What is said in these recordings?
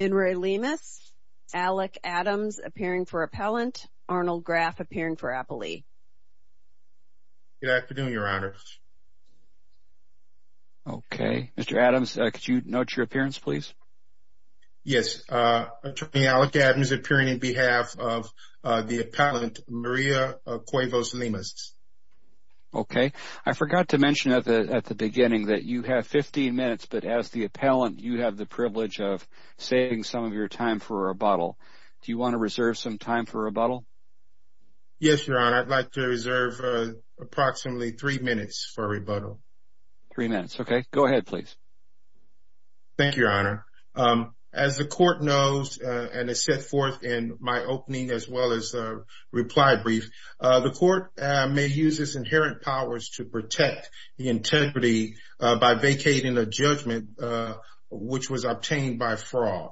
Enri Lemus, Alec Adams appearing for appellant, Arnold Graff appearing for appellee. Good afternoon, your honor. Okay. Mr. Adams, could you note your appearance, please? Yes. Attorney Alec Adams appearing on behalf of the appellant, Maria Cuevas Lemus. Okay. I forgot to mention at the beginning that you have 15 minutes, but as the appellant, you have the privilege of saving some of your time for rebuttal. Do you want to reserve some time for rebuttal? Yes, your honor. I'd like to reserve approximately three minutes for rebuttal. Three minutes. Okay. Go ahead, please. Thank you, your honor. As the court knows and has set forth in my opening as well as reply brief, the court may use its inherent powers to protect the integrity by vacating a judgment which was obtained by fraud.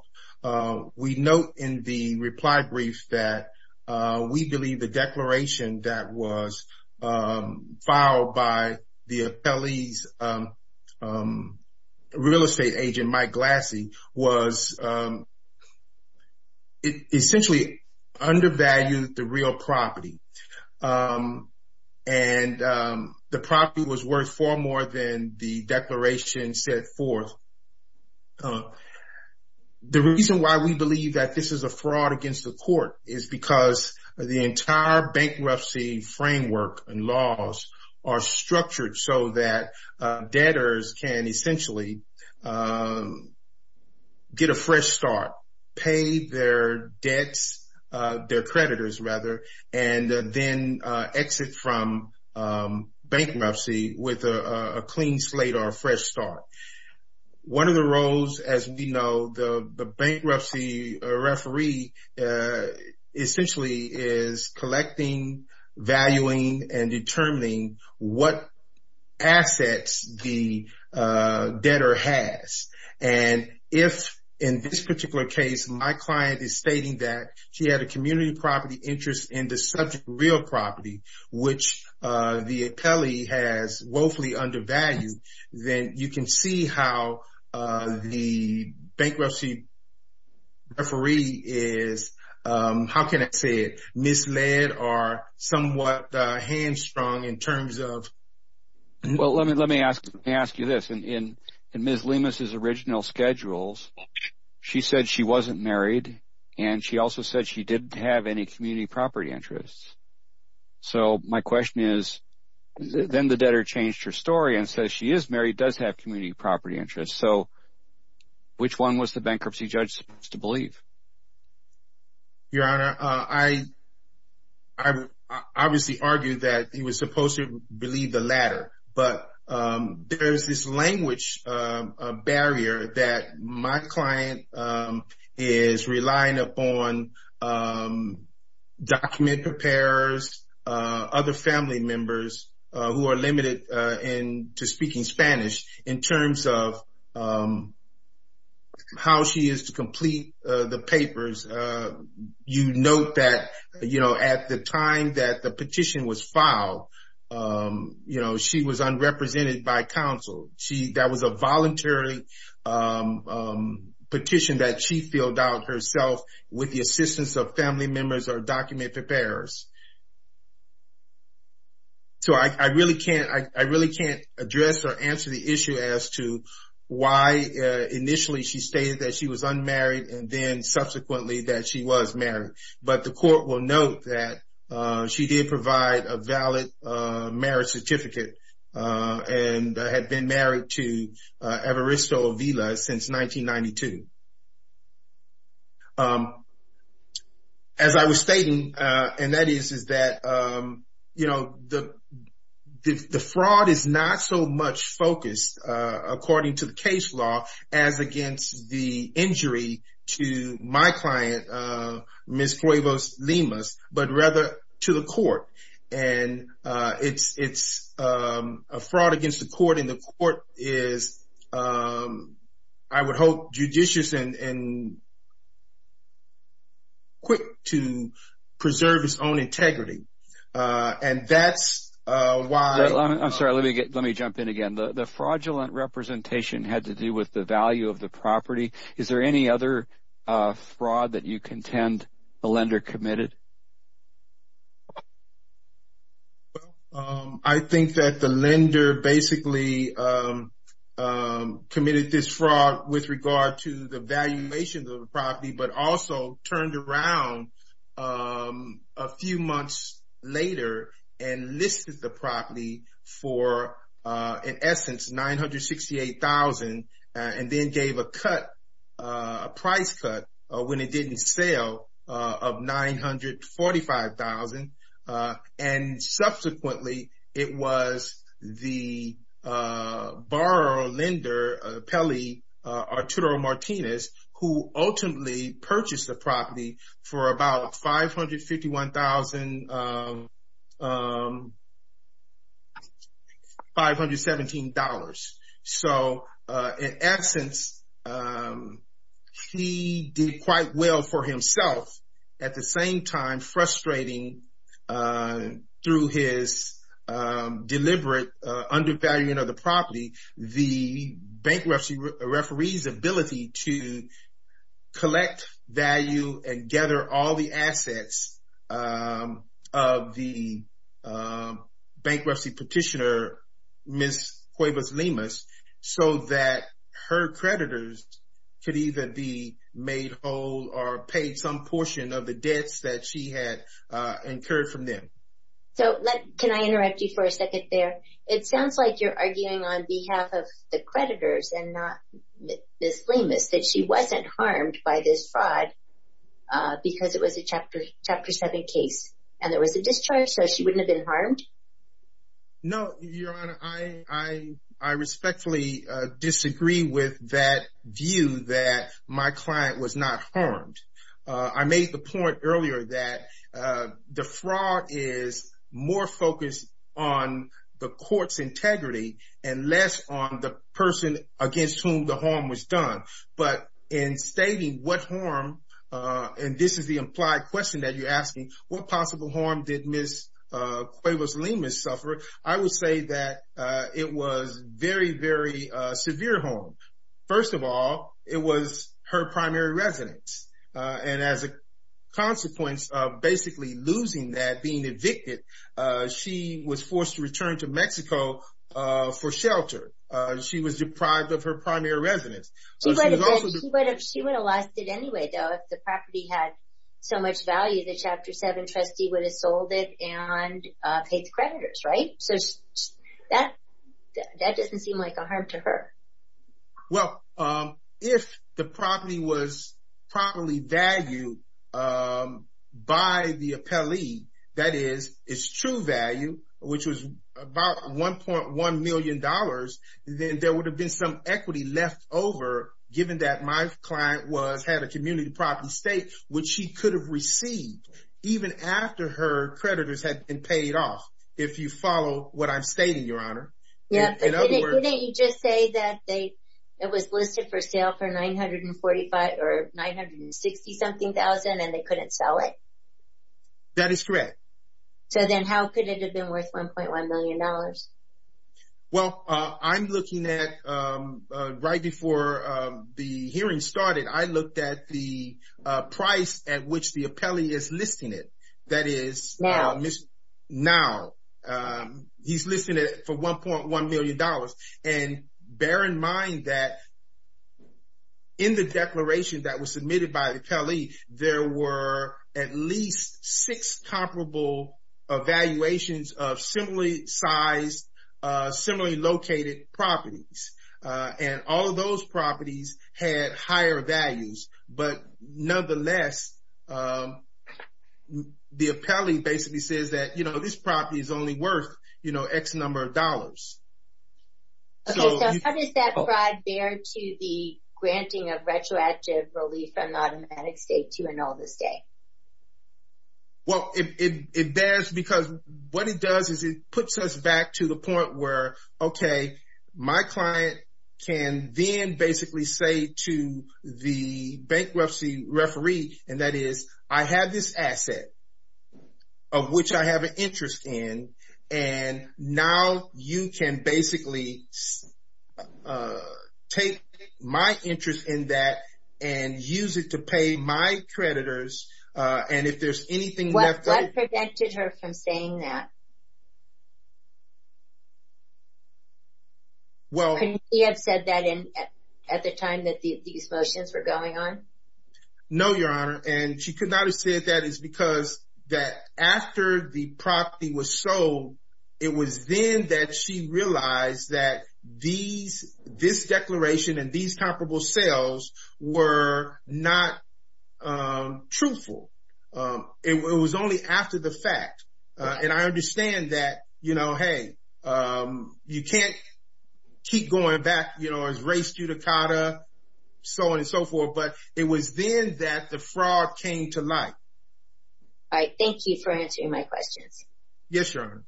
We note in the reply brief that we believe the declaration that was filed by the appellee's real estate agent, Mike Glassie, was essentially undervalued the real property. And the property was worth far more than the declaration set forth. The reason why we believe that this is a fraud against the court is because the entire bankruptcy framework and laws are structured so that debtors can essentially get a fresh start, pay their debts, their creditors rather, and then exit from bankruptcy with a clean slate or a fresh start. One of the roles, as we know, the bankruptcy referee essentially is collecting, valuing, and determining what assets the debtor has. And if in this particular case my client is stating that she had a community property interest in the subject real property, which the appellee has woefully undervalued, then you can see how the bankruptcy referee is, how can I say it, misled or somewhat hamstrung in terms of. Well, let me ask you this. In Ms. Lemus's original schedules, she said she wasn't married, and she also said she didn't have any community property interests. So my question is, then the debtor changed her story and says she is married, does have community property interests. So which one was the bankruptcy judge supposed to believe? Your Honor, I obviously argued that he was supposed to believe the latter. But there is this language barrier that my client is relying upon document preparers, other family members who are limited to speaking Spanish, in terms of how she is to complete the papers. You note that, you know, at the time that the petition was filed, you know, she was unrepresented by counsel. That was a voluntary petition that she filled out herself with the assistance of family members or document preparers. So I really can't address or answer the issue as to why initially she stated that she was unmarried and then subsequently that she was married. But the court will note that she did provide a valid marriage certificate and had been married to Evaristo Avila since 1992. As I was stating, and that is, is that, you know, the fraud is not so much focused, according to the case law, as against the injury to my client, Ms. Cuevas-Limas, but rather to the court. And it's a fraud against the court, and the court is, I would hope, judicious and quick to preserve its own integrity. And that's why… I'm sorry, let me jump in again. The fraudulent representation had to do with the value of the property. Is there any other fraud that you contend the lender committed? Well, I think that the lender basically committed this fraud with regard to the valuation of the property, but also turned around a few months later and listed the property for, in essence, $968,000, and then gave a cut, a price cut, when it didn't sell, of $945,000. And subsequently, it was the borrower or lender, Peli Arturo Martinez, who ultimately purchased the property for about $551,517. So in essence, he did quite well for himself. At the same time, frustrating through his deliberate undervaluing of the property, the bankruptcy referee's ability to collect value and gather all the assets of the bankruptcy petitioner, Ms. Cuevas-Limas, so that her creditors could either be made whole or paid some portion of the debts that she had incurred from them. So can I interrupt you for a second there? It sounds like you're arguing on behalf of the creditors and not Ms. Limas that she wasn't harmed by this fraud because it was a Chapter 7 case and there was a discharge, so she wouldn't have been harmed? No, Your Honor, I respectfully disagree with that view that my client was not harmed. I made the point earlier that the fraud is more focused on the court's integrity and less on the person against whom the harm was done. But in stating what harm, and this is the implied question that you're asking, what possible harm did Ms. Cuevas-Limas suffer, I would say that it was very, very severe harm. First of all, it was her primary residence, and as a consequence of basically losing that, being evicted, she was forced to return to Mexico for shelter. She was deprived of her primary residence. She would have lost it anyway, though, if the property had so much value, the Chapter 7 trustee would have sold it and paid the creditors, right? That doesn't seem like a harm to her. Well, if the property was properly valued by the appellee, that is, its true value, which was about $1.1 million, then there would have been some equity left over, given that my client had a community property estate, which she could have received, even after her creditors had been paid off, if you follow what I'm stating, Your Honor. Didn't you just say that it was listed for sale for $945,000 or $960,000-something, and they couldn't sell it? That is correct. So then how could it have been worth $1.1 million? Well, I'm looking at, right before the hearing started, I looked at the price at which the appellee is listing it, that is, now. He's listing it for $1.1 million. And bear in mind that in the declaration that was submitted by the appellee, there were at least six comparable evaluations of similarly sized, similarly located properties. And all of those properties had higher values. But nonetheless, the appellee basically says that, you know, this property is only worth, you know, X number of dollars. Okay, so how does that apply there to the granting of retroactive relief from the automatic estate to an oldest day? Well, it does because what it does is it puts us back to the point where, okay, my client can then basically say to the bankruptcy referee, and that is, I have this asset of which I have an interest in, and now you can basically take my interest in that and use it to pay my creditors. What prevented her from saying that? Couldn't she have said that at the time that these motions were going on? No, Your Honor, and she could not have said that because after the property was sold, it was then that she realized that this declaration and these comparable sales were not truthful. It was only after the fact. And I understand that, you know, hey, you can't keep going back, you know, as race judicata, so on and so forth, but it was then that the fraud came to light. All right. Thank you for answering my questions. Yes, Your Honor.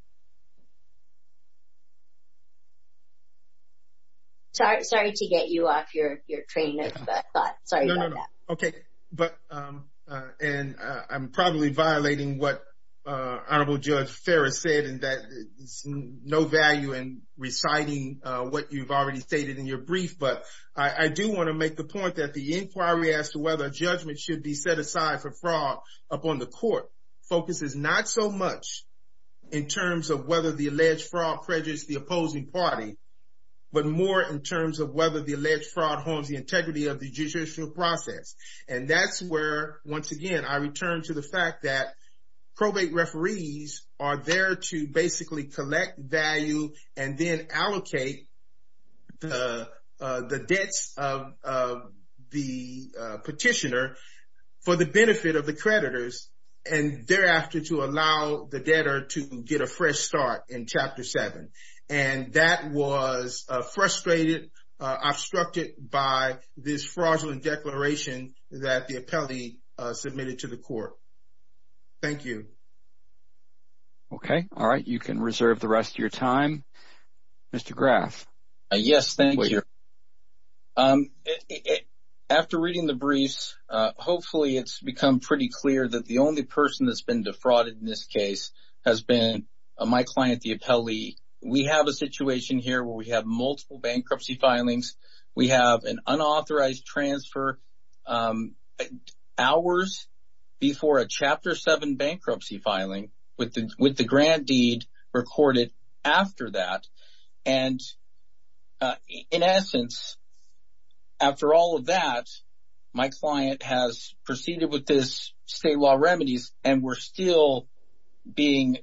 Sorry to get you off your train of thought. Sorry about that. Okay. And I'm probably violating what Honorable Judge Ferris said in that there's no value in reciting what you've already stated in your brief, but I do want to make the point that the inquiry as to whether a judgment should be set aside for fraud upon the court focuses not so much in terms of whether the alleged fraud prejudges the opposing party, but more in terms of whether the alleged fraud harms the integrity of the judicial process. And that's where, once again, I return to the fact that probate referees are there to basically collect value and then allocate the debts of the petitioner for the benefit of the creditors and thereafter to allow the debtor to get a fresh start in Chapter 7. And that was frustrated, obstructed by this fraudulent declaration that the appellee submitted to the court. Thank you. Okay. All right. You can reserve the rest of your time. Mr. Graff. Yes, thank you. After reading the briefs, hopefully it's become pretty clear that the only person that's been defrauded in this case has been my client, the appellee. We have a situation here where we have multiple bankruptcy filings. We have an unauthorized transfer hours before a Chapter 7 bankruptcy filing with the grand deed recorded after that. And in essence, after all of that, my client has proceeded with his state law remedies and we're still being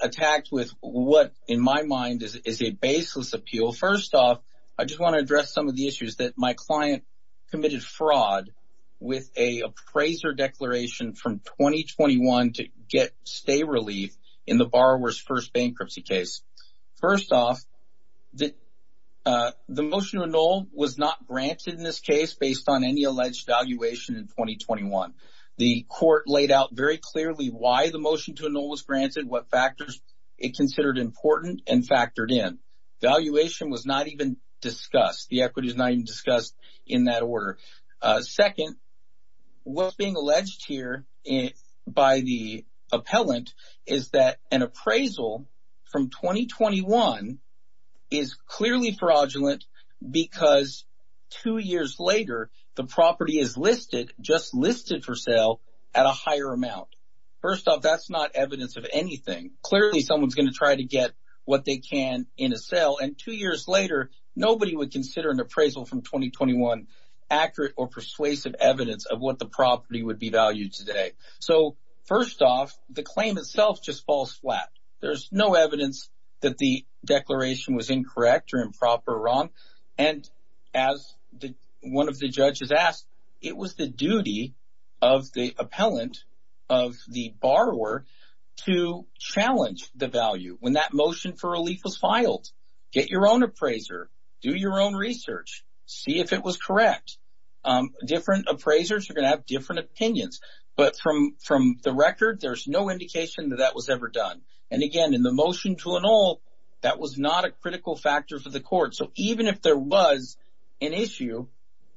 attacked with what, in my mind, is a baseless appeal. First off, I just want to address some of the issues that my client committed fraud with an appraiser declaration from 2021 to get stay relief in the borrower's first bankruptcy case. First off, the motion to annul was not granted in this case based on any alleged valuation in 2021. The court laid out very clearly why the motion to annul was granted, what factors it considered important, and factored in. Valuation was not even discussed. The equity is not even discussed in that order. Second, what's being alleged here by the appellant is that an appraisal from 2021 is clearly fraudulent because two years later, the property is listed, just listed for sale, at a higher amount. First off, that's not evidence of anything. Clearly, someone's going to try to get what they can in a sale, and two years later, nobody would consider an appraisal from 2021 accurate or persuasive evidence of what the property would be valued today. First off, the claim itself just falls flat. There's no evidence that the declaration was incorrect or improper or wrong, and as one of the judges asked, it was the duty of the appellant, of the borrower, to challenge the value. When that motion for relief was filed, get your own appraiser, do your own research, see if it was correct. Different appraisers are going to have different opinions. But from the record, there's no indication that that was ever done. And again, in the motion to annul, that was not a critical factor for the court. So even if there was an issue,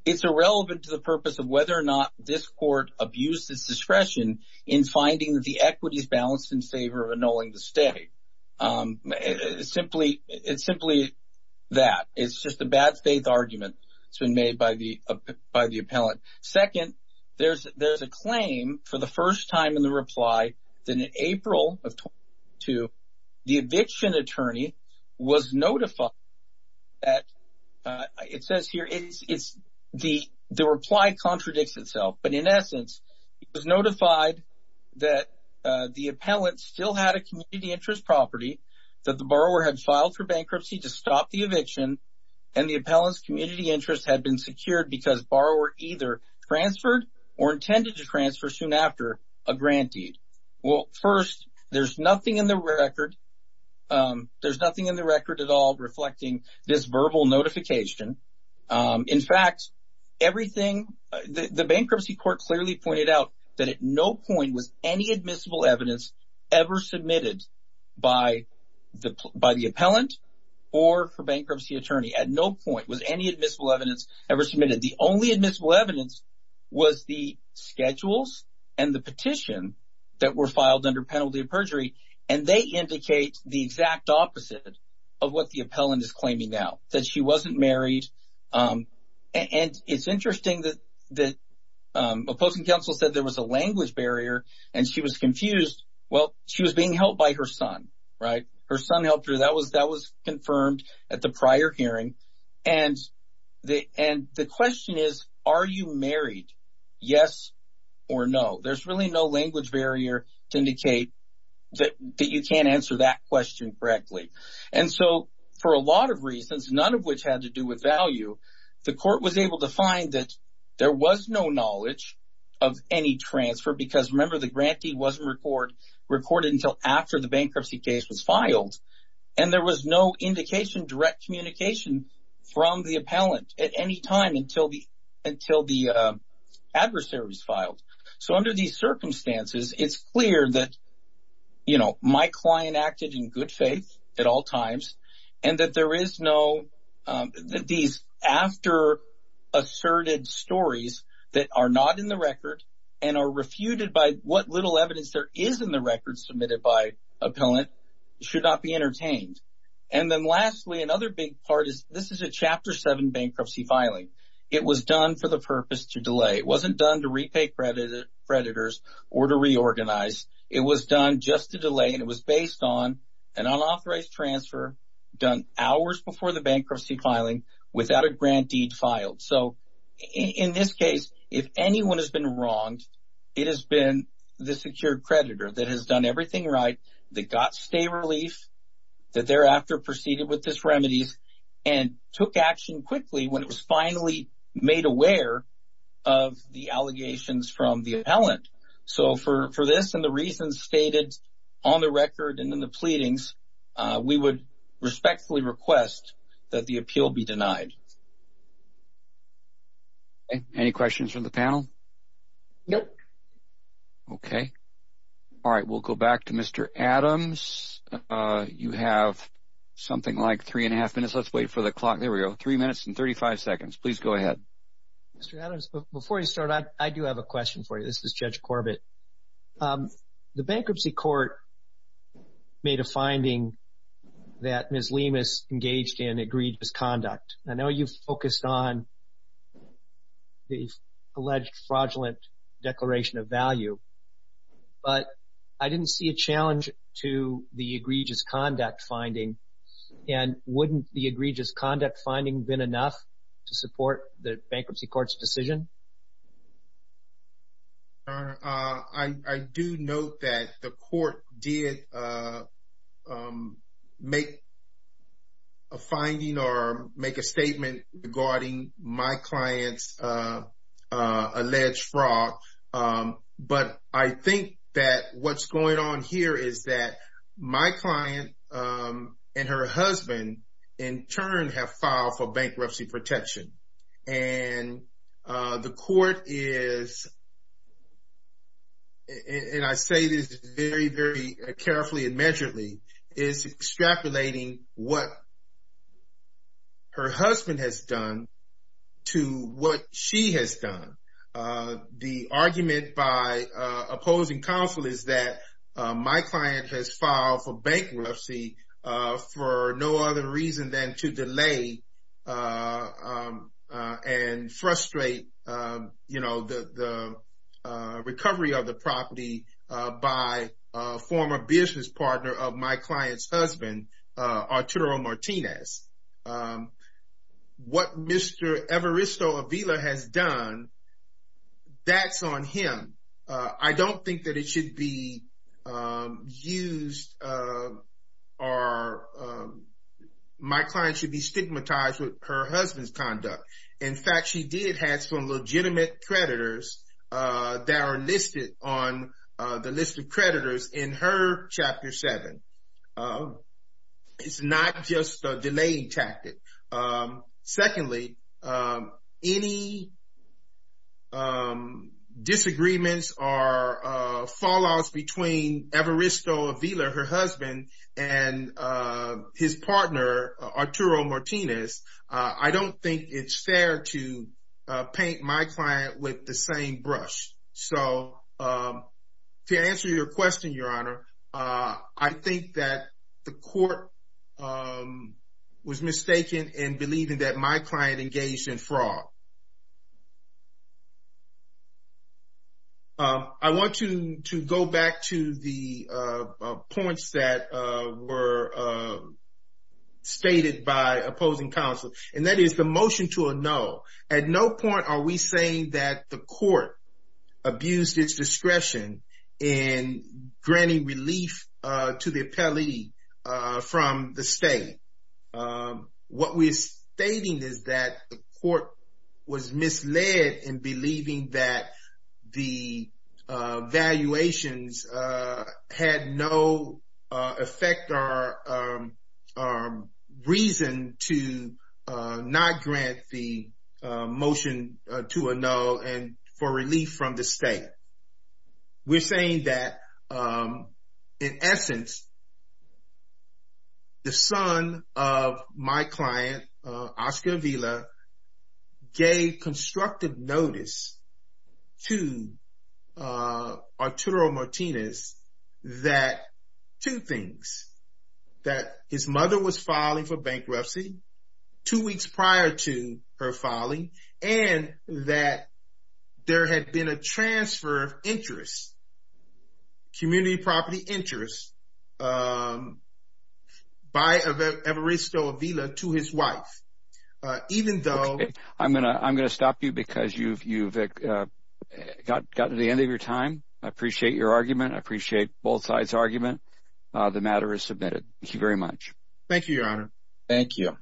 it's irrelevant to the purpose of whether or not this court abused its discretion in finding that the equity is balanced in favor of annulling the stay. It's simply that. It's just a bad-faith argument that's been made by the appellant. Second, there's a claim for the first time in the reply that in April of 2022, the eviction attorney was notified that – that the appellant still had a community interest property, that the borrower had filed for bankruptcy to stop the eviction, and the appellant's community interest had been secured because borrower either transferred or intended to transfer soon after a grant deed. Well, first, there's nothing in the record. There's nothing in the record at all reflecting this verbal notification. In fact, everything – the bankruptcy court clearly pointed out that at no point was any admissible evidence ever submitted by the appellant or for bankruptcy attorney. At no point was any admissible evidence ever submitted. The only admissible evidence was the schedules and the petition that were filed under penalty of perjury, and they indicate the exact opposite of what the appellant is claiming now, that she wasn't married. And it's interesting that opposing counsel said there was a language barrier, and she was confused. Well, she was being helped by her son, right? Her son helped her. That was confirmed at the prior hearing. And the question is, are you married, yes or no? There's really no language barrier to indicate that you can't answer that question correctly. And so for a lot of reasons, none of which had to do with value, the court was able to find that there was no knowledge of any transfer because, remember, the grant deed wasn't recorded until after the bankruptcy case was filed, and there was no indication, direct communication from the appellant at any time until the adversary was filed. So under these circumstances, it's clear that, you know, my client acted in good faith at all times and that there is no these after-asserted stories that are not in the record and are refuted by what little evidence there is in the record submitted by appellant should not be entertained. And then lastly, another big part is this is a Chapter 7 bankruptcy filing. It was done for the purpose to delay. It wasn't done to repay creditors or to reorganize. It was done just to delay, and it was based on an unauthorized transfer done hours before the bankruptcy filing without a grant deed filed. So in this case, if anyone has been wronged, it has been the secured creditor that has done everything right, that got stay relief, that thereafter proceeded with this remedies, and took action quickly when it was finally made aware of the allegations from the appellant. So for this and the reasons stated on the record and in the pleadings, we would respectfully request that the appeal be denied. Any questions from the panel? No. Okay. All right. We'll go back to Mr. Adams. James, you have something like three and a half minutes. Let's wait for the clock. There we go. Three minutes and 35 seconds. Please go ahead. Mr. Adams, before you start, I do have a question for you. This is Judge Corbett. The bankruptcy court made a finding that Ms. Lemus engaged in egregious conduct. I know you focused on the alleged fraudulent declaration of value, but I didn't see a challenge to the egregious conduct finding, and wouldn't the egregious conduct finding have been enough to support the bankruptcy court's decision? I do note that the court did make a finding or make a statement regarding my client's alleged fraud, but I think that what's going on here is that my client and her husband in turn have filed for bankruptcy protection, and the court is, and I say this very, very carefully and measuredly, is extrapolating what her husband has done to what she has done. The argument by opposing counsel is that my client has filed for bankruptcy for no other reason than to delay and frustrate the recovery of the property by a former business partner of my client's husband, Arturo Martinez. What Mr. Evaristo Avila has done, that's on him. I don't think that it should be used or my client should be stigmatized with her husband's conduct. In fact, she did have some legitimate creditors that are listed on the list of creditors in her Chapter 7. It's not just a delaying tactic. Secondly, any disagreements or fallouts between Evaristo Avila, her husband, and his partner, Arturo Martinez, I don't think it's fair to paint my client with the same brush. To answer your question, Your Honor, I think that the court was mistaken in believing that my client engaged in fraud. I want to go back to the points that were stated by opposing counsel, and that is the motion to a no. At no point are we saying that the court abused its discretion in granting relief to the appellee from the state. What we're stating is that the court was misled in believing that the valuations had no effect or reason to not grant the motion to a no and for relief from the state. We're saying that, in essence, the son of my client, Oscar Avila, gave constructive notice to Arturo Martinez that two things, that his mother was filing for bankruptcy two weeks prior to her filing, and that there had been a transfer of interest, community property interest, by Evaristo Avila to his wife. I'm going to stop you because you've gotten to the end of your time. I appreciate your argument. I appreciate both sides' argument. The matter is submitted. Thank you very much. Thank you, Your Honor. Thank you.